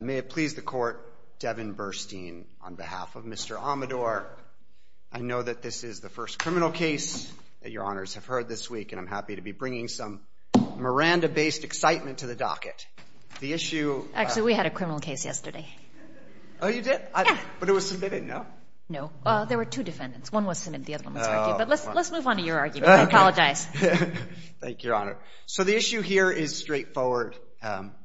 May it please the court, Devin Burstein, on behalf of Mr. Amador, I know that this is the first criminal case that your honors have heard this week, and I'm happy to be bringing some Miranda-based excitement to the docket. The issue... Actually, we had a criminal case yesterday. Oh, you did? Yeah. But it was submitted, no? No. There were two defendants. One was submitted. The other one was argued. But let's move on to your argument. I apologize. Thank you, your honor. So the issue here is straightforward.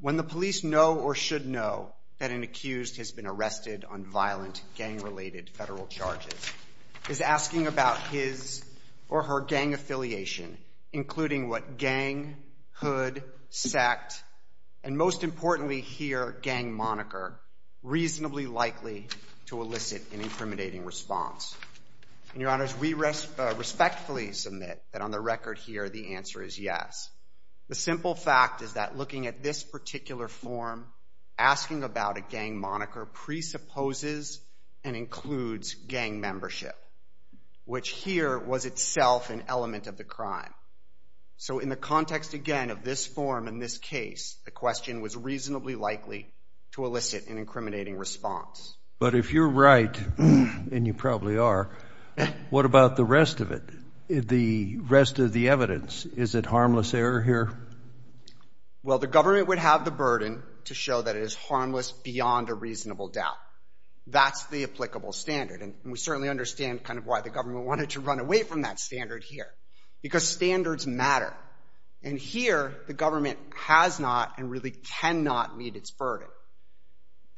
When the police know or should know that an accused has been arrested on violent gang-related federal charges, is asking about his or her gang affiliation, including what gang, hood, sect, and most importantly here, gang moniker, reasonably likely to elicit an incriminating response. And your honors, we respectfully submit that on the record here, the answer is yes. The simple fact is that looking at this particular form, asking about a gang moniker presupposes and includes gang membership, which here was itself an element of the crime. So in the context again of this form in this case, the question was reasonably likely to elicit an incriminating response. But if you're right, and you probably are, what about the rest of it? The rest of the evidence, is it harmless error here? Well, the government would have the burden to show that it is harmless beyond a reasonable doubt. That's the applicable standard. And we certainly understand kind of why the government wanted to run away from that standard here. Because standards matter. And here, the government has not and really cannot meet its burden.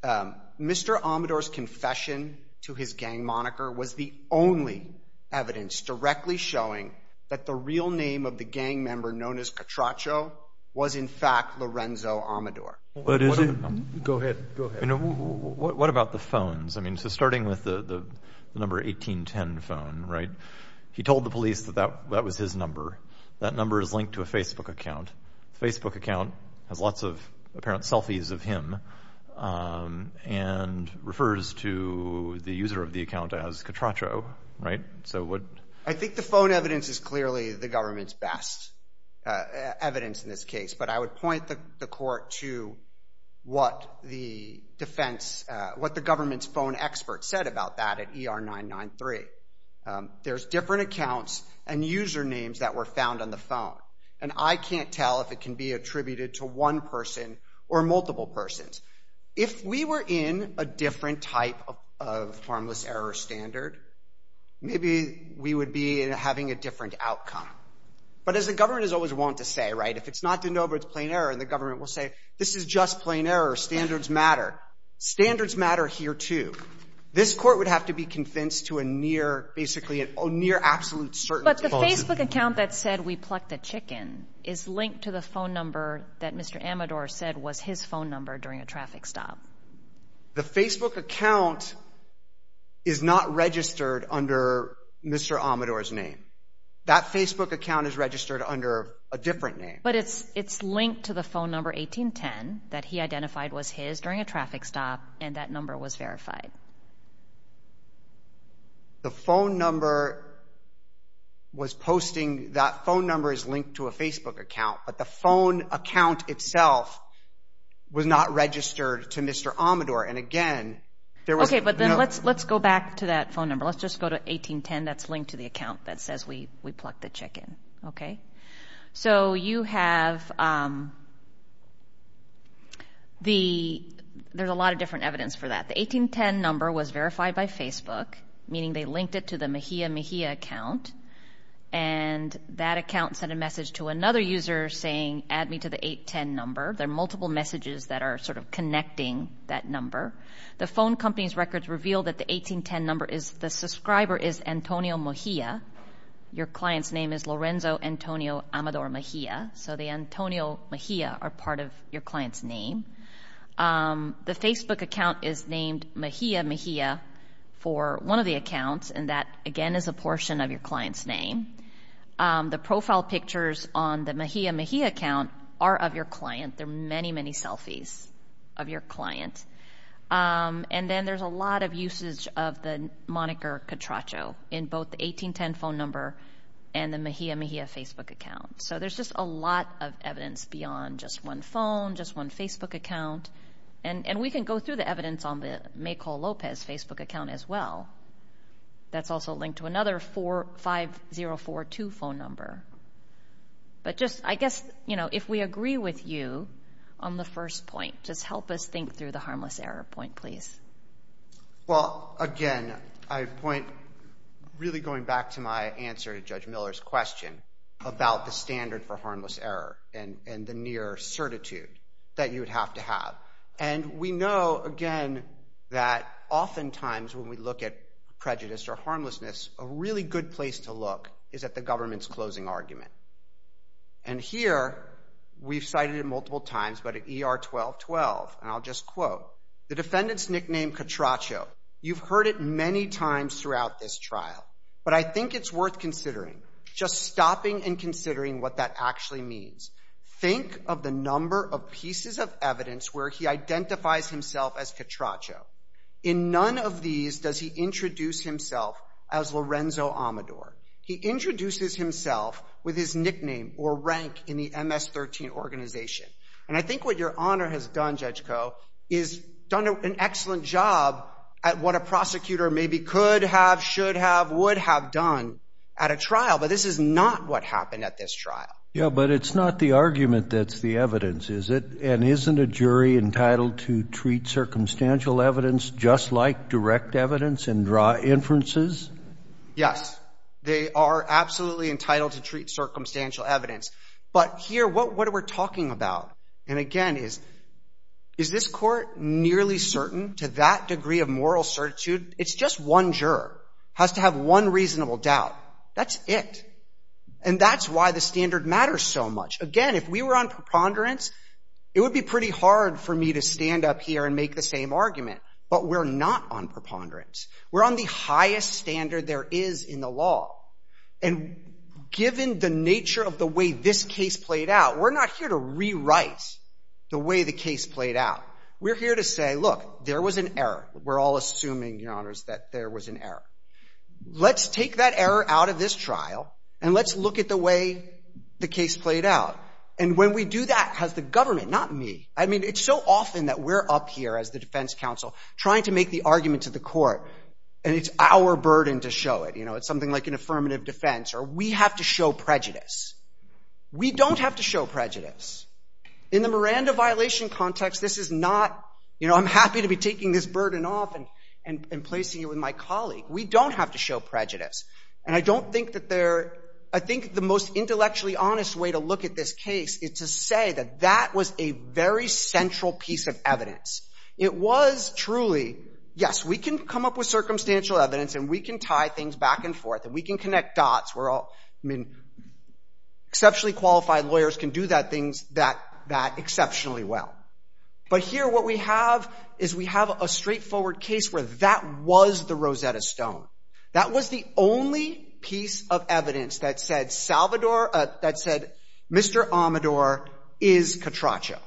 However, Mr. Amador's confession to his gang moniker was the only evidence directly showing that the real name of the gang member known as Catracho was in fact Lorenzo Amador. Go ahead, go ahead. What about the phones? I mean, so starting with the number 1810 phone, right? He told the police that that was his number. That number is linked to a Facebook account. Facebook account has lots of apparent selfies of him and refers to the user of the account as Catracho, right? So what? I think the phone evidence is clearly the government's best evidence in this case. But I would point the court to what the defense, what the government's phone experts said about that at ER 993. There's different accounts and usernames that were found on the phone. And I can't tell if it can be attributed to one person or multiple persons. If we were in a different type of harmless error standard, maybe we would be having a different outcome. But as the government has always wanted to say, right, if it's not the know, but it's plain error, and the government will say, this is just plain error, standards matter. Standards matter here, too. This court would have to be convinced to a near, basically a near absolute certainty. The Facebook account that said we plucked the chicken is linked to the phone number that Mr. Amador said was his phone number during a traffic stop. The Facebook account is not registered under Mr. Amador's name. That Facebook account is registered under a different name. But it's linked to the phone number 1810 that he identified was his during a traffic stop and that number was verified. The phone number was posting, that phone number is linked to a Facebook account, but the phone account itself was not registered to Mr. Amador. And again, there was no... Okay, but then let's go back to that phone number. Let's just go to 1810. That's linked to the account that says we plucked the chicken, okay? So you have the, there's a lot of different evidence for that. The 1810 number was verified by Facebook, meaning they linked it to the Mejia Mejia account. And that account sent a message to another user saying, add me to the 810 number. There are multiple messages that are sort of connecting that number. The phone company's records reveal that the 1810 number is the subscriber is Antonio Mejia. Your client's name is Lorenzo Antonio Amador Mejia. So the Antonio Mejia are part of your client's name. The Facebook account is named Mejia Mejia for one of the accounts. And that, again, is a portion of your client's name. The profile pictures on the Mejia Mejia account are of your client. There are many, many selfies of your client. And then there's a lot of usage of the moniker Catracho in both the 1810 phone number and the Mejia Mejia Facebook account. So there's just a lot of evidence beyond just one phone, just one Facebook account. And we can go through the evidence on the Maykol Lopez Facebook account as well. That's also linked to another 5042 phone number. But just, I guess, you know, if we agree with you on the first point, just help us think through the harmless error point, please. Well, again, I point, really going back to my answer to Judge Miller's question about the standard for harmless error and the near certitude that you would have to have. And we know, again, that oftentimes when we look at prejudice or harmlessness, a really good place to look is at the government's closing argument. And here, we've cited it multiple times, but at ER 1212, and I'll just quote, the defendant's nickname, Catracho. You've heard it many times throughout this trial. But I think it's worth considering, just stopping and considering what that actually means. Think of the number of pieces of evidence where he identifies himself as Catracho. In none of these does he introduce himself as Lorenzo Amador. He introduces himself with his nickname or rank in the MS-13 organization. And I think what Your Honor has done, Judge Coe, is done an excellent job at what a prosecutor maybe could have, should have, would have done at a trial, but this is not what happened at this trial. Yeah, but it's not the argument that's the evidence, is it? And isn't a jury entitled to treat circumstantial evidence just like direct evidence and draw inferences? Yes. They are absolutely entitled to treat circumstantial evidence. But here, what we're talking about, and again, is, is this court nearly certain to that degree of moral certitude? It's just one juror has to have one reasonable doubt. That's it. And that's why the standard matters so much. Again, if we were on preponderance, it would be pretty hard for me to stand up here and make the same argument, but we're not on preponderance. We're on the highest standard there is in the law. And given the nature of the way this case played out, we're not here to rewrite the way the case played out. We're here to say, look, there was an error. We're all assuming, Your Honors, that there was an error. Let's take that error out of this trial, and let's look at the way the case played out. And when we do that, has the government, not me, I mean, it's so often that we're up here as the defense counsel trying to make the argument to the court, and it's our burden to show it. You know, it's something like an affirmative defense, or we have to show prejudice. We don't have to show prejudice. In the Miranda violation context, this is not, you know, I'm happy to be taking this burden off and placing it with my colleague. We don't have to show prejudice. And I don't think that they're, I think the most intellectually honest way to look at this case is to say that that was a very central piece of evidence. It was truly, yes, we can come up with circumstantial evidence, and we can tie things back and forth, and we can connect dots, we're all, I mean, exceptionally qualified lawyers can do that things that exceptionally well. But here what we have is we have a straightforward case where that was the Rosetta Stone. That was the only piece of evidence that said Salvador, that said Mr. Amador is Catracho.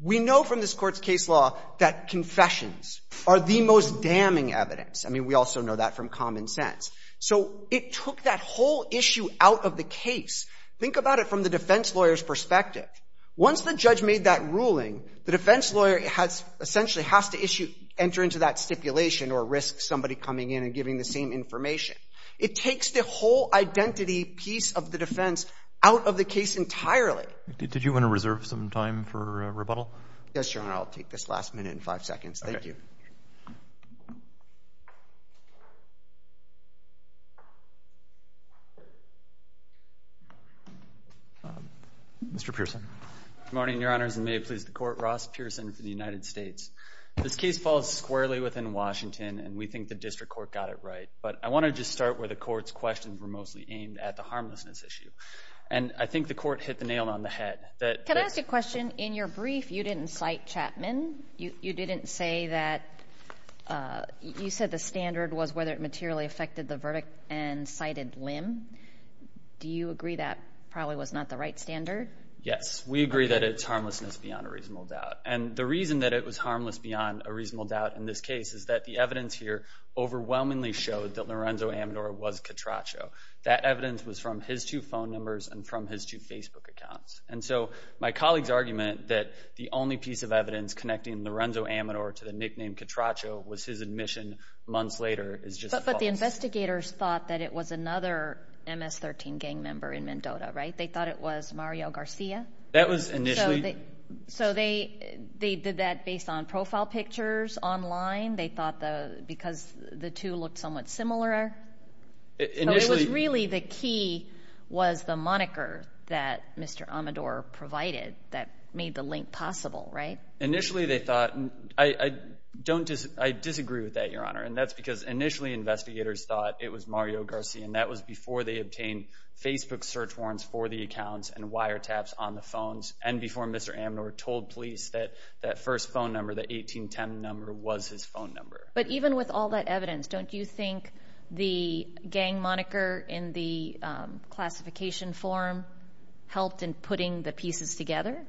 We know from this court's case law that confessions are the most damning evidence. I mean, we also know that from common sense. So it took that whole issue out of the case. Think about it from the defense lawyer's perspective. Once the judge made that ruling, the defense lawyer has, essentially has to issue, enter into that stipulation or risk somebody coming in and giving the same information. It takes the whole identity piece of the defense out of the case entirely. Did you want to reserve some time for rebuttal? Yes, Your Honor. I'll take this last minute and five seconds. Thank you. Okay. Mr. Pearson. Good morning, Your Honors, and may it please the Court, Ross Pearson for the United States. This case falls squarely within Washington, and we think the district court got it right. But I want to just start where the court's questions were mostly aimed, at the harmlessness issue. And I think the court hit the nail on the head that- Can I ask you a question? In your brief, you didn't cite Chapman. You didn't say that, you said the standard was whether it materially affected the verdict and cited Lim. Do you agree that probably was not the right standard? Yes. We agree that it's harmlessness beyond a reasonable doubt. And the reason that it was harmless beyond a reasonable doubt in this case is that the evidence here overwhelmingly showed that Lorenzo Amador was Catracho. That evidence was from his two phone numbers and from his two Facebook accounts. And so my colleague's argument that the only piece of evidence connecting Lorenzo Amador to the nickname Catracho was his admission months later is just false. But the investigators thought that it was another MS-13 gang member in Mendota, right? They thought it was Mario Garcia? That was initially- So they did that based on profile pictures online? They thought because the two looked somewhat similar? Initially- Amador provided that made the link possible, right? Initially they thought- I disagree with that, Your Honor. And that's because initially investigators thought it was Mario Garcia. And that was before they obtained Facebook search warrants for the accounts and wire taps on the phones. And before Mr. Amador told police that that first phone number, that 1810 number, was his phone number. But even with all that evidence, don't you think the gang moniker in the classification form helped in putting the pieces together?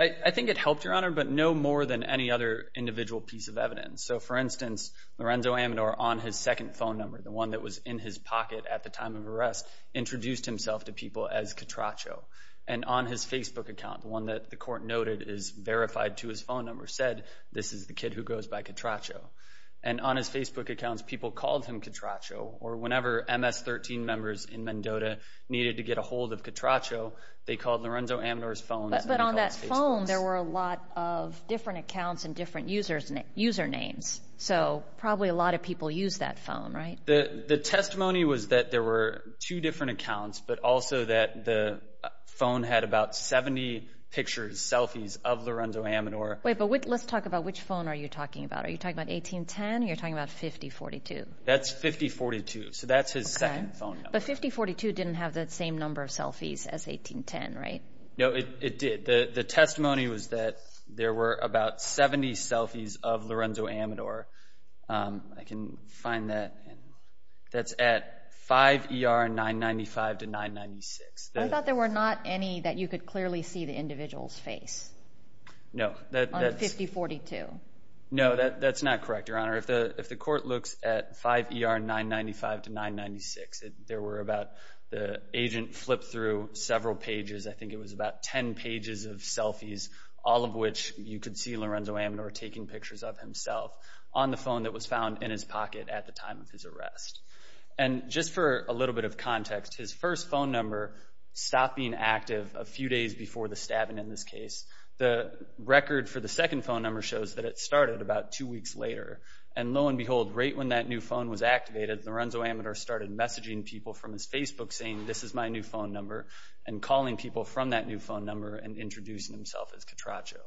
I think it helped, Your Honor, but no more than any other individual piece of evidence. So for instance, Lorenzo Amador on his second phone number, the one that was in his pocket at the time of arrest, introduced himself to people as Catracho. And on his Facebook account, the one that the court noted is verified to his phone number, said this is the kid who goes by Catracho. And on his Facebook accounts, people called him Catracho or whenever MS-13 members in the household of Catracho, they called Lorenzo Amador's phone. But on that phone, there were a lot of different accounts and different usernames. So probably a lot of people use that phone, right? The testimony was that there were two different accounts, but also that the phone had about 70 pictures, selfies of Lorenzo Amador. Wait, but let's talk about which phone are you talking about? Are you talking about 1810 or you're talking about 5042? That's 5042. So that's his second phone number. But 5042 didn't have that same number of selfies as 1810, right? No, it did. The testimony was that there were about 70 selfies of Lorenzo Amador. I can find that. That's at 5 ER 995 to 996. I thought there were not any that you could clearly see the individual's face on 5042. No, that's not correct, Your Honor. If the court looks at 5 ER 995 to 996, there were about, the agent flipped through several pages. I think it was about 10 pages of selfies, all of which you could see Lorenzo Amador taking pictures of himself on the phone that was found in his pocket at the time of his arrest. And just for a little bit of context, his first phone number stopped being active a few days before the stabbing in this case. The record for the second phone number shows that it started about two weeks later. And lo and behold, right when that new phone was activated, Lorenzo Amador started messaging people from his Facebook saying, this is my new phone number, and calling people from that new phone number and introducing himself as Catracho.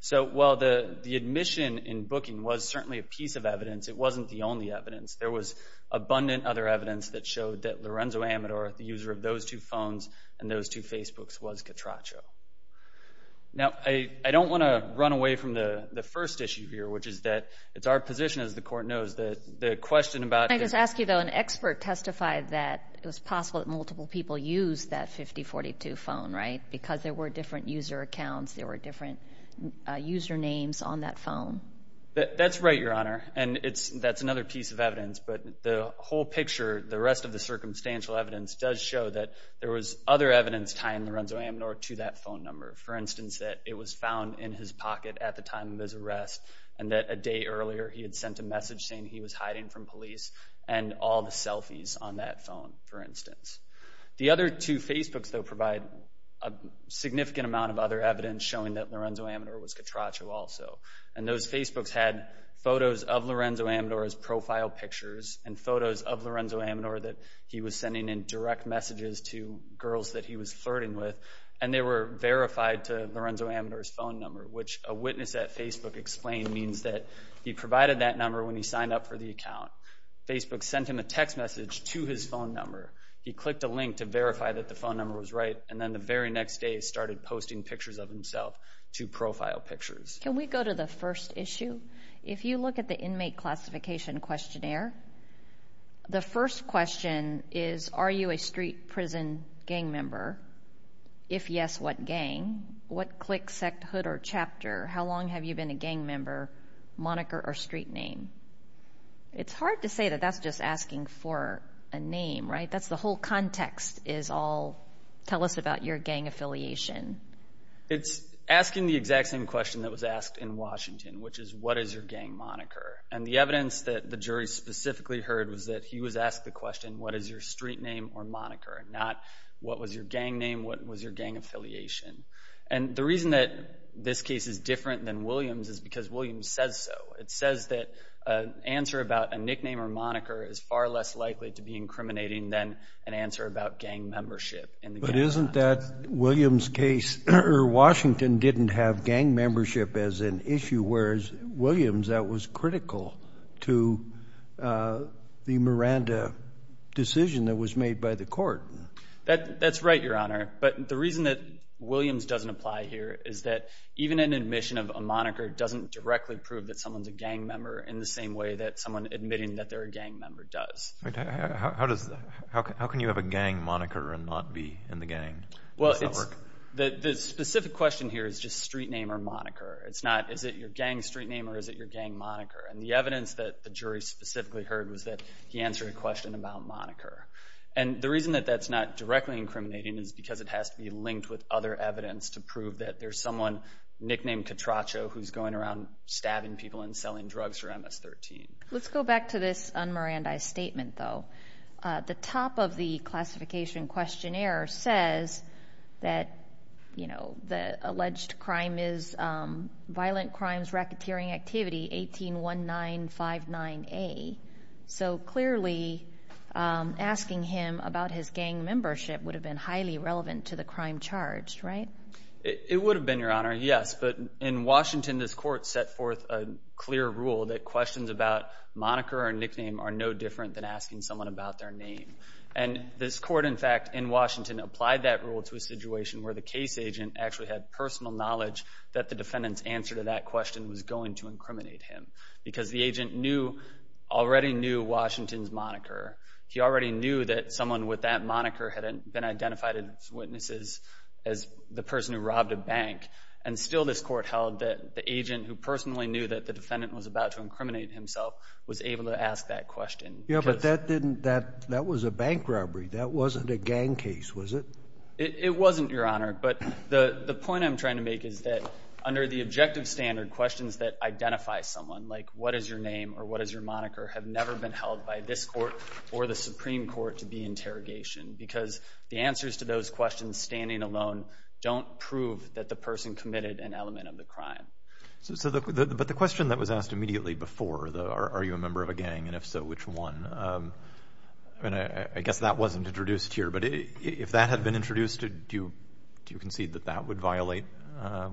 So while the admission in booking was certainly a piece of evidence, it wasn't the only evidence. There was abundant other evidence that showed that Lorenzo Amador, the user of those two Now, I don't want to run away from the first issue here, which is that it's our position as the court knows that the question about... Can I just ask you though, an expert testified that it was possible that multiple people used that 5042 phone, right? Because there were different user accounts, there were different user names on that phone. That's right, Your Honor. And that's another piece of evidence. But the whole picture, the rest of the circumstantial evidence does show that there was other evidence tying Lorenzo Amador to that phone number. For instance, that it was found in his pocket at the time of his arrest, and that a day earlier he had sent a message saying he was hiding from police, and all the selfies on that phone, for instance. The other two Facebooks, though, provide a significant amount of other evidence showing that Lorenzo Amador was Catracho also. And those Facebooks had photos of Lorenzo Amador's profile pictures, and photos of Lorenzo messages to girls that he was flirting with, and they were verified to Lorenzo Amador's phone number, which a witness at Facebook explained means that he provided that number when he signed up for the account. Facebook sent him a text message to his phone number. He clicked a link to verify that the phone number was right, and then the very next day he started posting pictures of himself to profile pictures. Can we go to the first issue? If you look at the inmate classification questionnaire, the first question is, are you a street prison gang member? If yes, what gang? What clique, sect, hood, or chapter? How long have you been a gang member, moniker, or street name? It's hard to say that that's just asking for a name, right? That's the whole context is all, tell us about your gang affiliation. It's asking the exact same question that was asked in Washington, which is, what is your gang moniker? And the evidence that the jury specifically heard was that he was asked the question, what is your street name or moniker, not what was your gang name, what was your gang affiliation? And the reason that this case is different than Williams' is because Williams says so. It says that an answer about a nickname or moniker is far less likely to be incriminating than an answer about gang membership in the gang. But isn't that Williams' case, or Washington didn't have gang membership as an issue, whereas Williams, that was critical to the Miranda decision that was made by the court. That's right, Your Honor, but the reason that Williams doesn't apply here is that even an admission of a moniker doesn't directly prove that someone's a gang member in the same way that someone admitting that they're a gang member does. How can you have a gang moniker and not be in the gang? Well, the specific question here is just street name or moniker. It's not, is it your gang street name or is it your gang moniker? And the evidence that the jury specifically heard was that he answered a question about moniker. And the reason that that's not directly incriminating is because it has to be linked with other evidence to prove that there's someone nicknamed Catracho who's going around stabbing people and selling drugs for MS-13. Let's go back to this un-Mirandaized statement, though. The top of the classification questionnaire says that, you know, the alleged crime is violent crimes racketeering activity 181959A. So clearly, asking him about his gang membership would have been highly relevant to the crime charged, right? It would have been, Your Honor, yes, but in Washington, this court set forth a clear rule that questions about moniker or nickname are no different than asking someone about their name. And this court, in fact, in Washington, applied that rule to a situation where the case agent actually had personal knowledge that the defendant's answer to that question was going to incriminate him because the agent knew, already knew Washington's moniker. He already knew that someone with that moniker had been identified as witnesses as the person who robbed a bank. And still this court held that the agent who personally knew that the defendant was about to incriminate himself was able to ask that question. Yeah, but that didn't, that was a bank robbery. That wasn't a gang case, was it? It wasn't, Your Honor. But the point I'm trying to make is that under the objective standard, questions that identify someone like what is your name or what is your moniker have never been held by this court or the Supreme Court to be interrogation because the answers to those questions standing alone don't prove that the person committed an element of the crime. But the question that was asked immediately before, are you a member of a gang, and if so, which one, I mean, I guess that wasn't introduced here, but if that had been introduced, do you concede that that would violate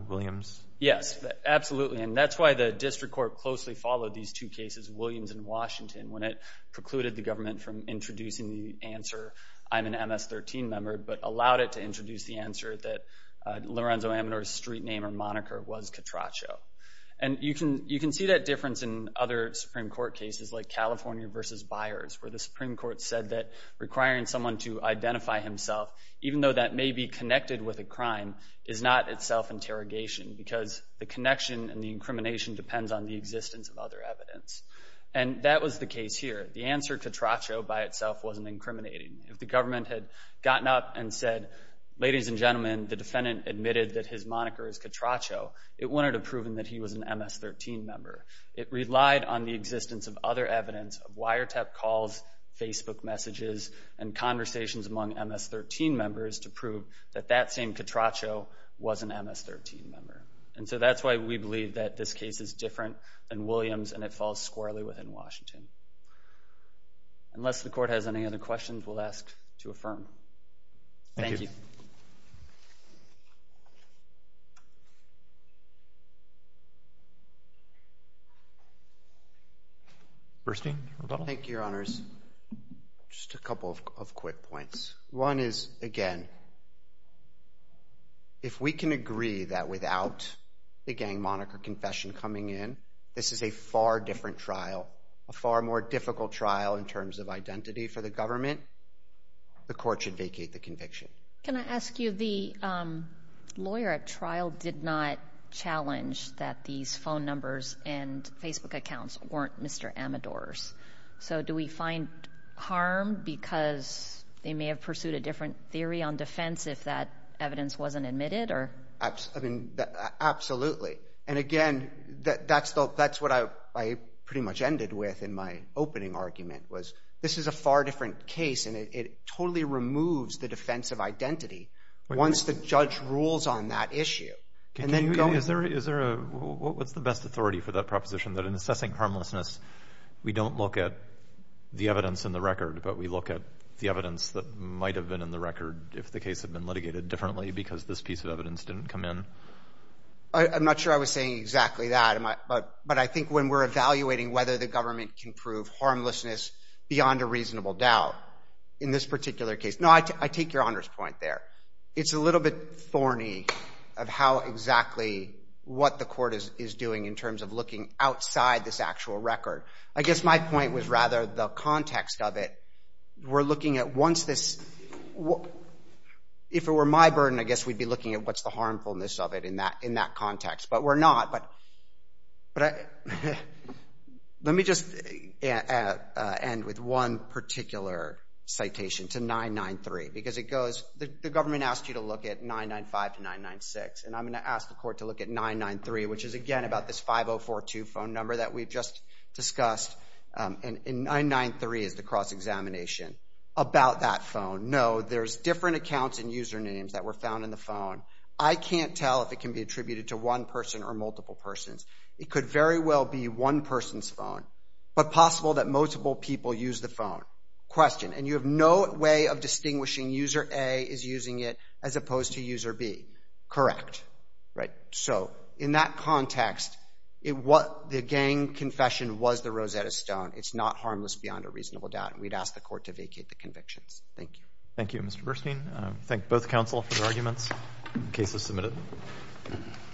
Williams? Yes, absolutely. And that's why the district court closely followed these two cases, Williams and Washington, when it precluded the government from introducing the answer, I'm an MS-13 member, but allowed it to introduce the answer that Lorenzo Amador's street name or moniker was Catracho. And you can see that difference in other Supreme Court cases like California versus Byers where the Supreme Court said that requiring someone to identify himself, even though that may be connected with a crime, is not itself interrogation because the connection and the incrimination depends on the existence of other evidence. And that was the case here. The answer Catracho by itself wasn't incriminating. If the government had gotten up and said, ladies and gentlemen, the defendant admitted that his moniker is Catracho, it wouldn't have proven that he was an MS-13 member. It relied on the existence of other evidence of wiretap calls, Facebook messages, and conversations among MS-13 members to prove that that same Catracho was an MS-13 member. And so that's why we believe that this case is different than Williams and it falls squarely within Washington. Unless the court has any other questions, we'll ask to affirm. Thank you. Bernstein. Thank you, Your Honors. Just a couple of quick points. One is, again, if we can agree that without the gang moniker confession coming in, this is a far different trial, a far more difficult trial in terms of identity for the government, the court should vacate the conviction. Can I ask you, the lawyer at trial did not challenge that these phone numbers and Facebook accounts weren't Mr. Amador's. So do we find harm because they may have pursued a different theory on defense if that evidence wasn't admitted? Absolutely. And again, that's what I pretty much ended with in my opening argument, was this is a far different case and it totally removes the defense of identity once the judge rules on that issue. And then going... Is there a... What's the best authority for that proposition, that in assessing harmlessness, we don't look at the evidence in the record, but we look at the evidence that might have been in the record if the case had been litigated differently because this piece of evidence didn't come in? I'm not sure I was saying exactly that, but I think when we're evaluating whether the government can prove harmlessness beyond a reasonable doubt in this particular case... No, I take your Honor's point there. It's a little bit thorny of how exactly what the court is doing in terms of looking outside this actual record. I guess my point was rather the context of it. We're looking at once this... If it were my burden, I guess we'd be looking at what's the harmfulness of it in that context, but we're not. But let me just end with one particular citation to 993, because it goes... The government asked you to look at 995 to 996, and I'm going to ask the court to look at 993, which is again about this 5042 phone number that we've just discussed, and 993 is the cross-examination about that phone. No, there's different accounts and usernames that were found in the phone. I can't tell if it can be attributed to one person or multiple persons. It could very well be one person's phone, but possible that multiple people used the phone. Question. And you have no way of distinguishing user A is using it as opposed to user B. Correct. So in that context, the gang confession was the Rosetta Stone. It's not harmless beyond a reasonable doubt, and we'd ask the court to vacate the convictions. Thank you. Thank you, Mr. Burstein. I thank both counsel for their arguments. The case is submitted.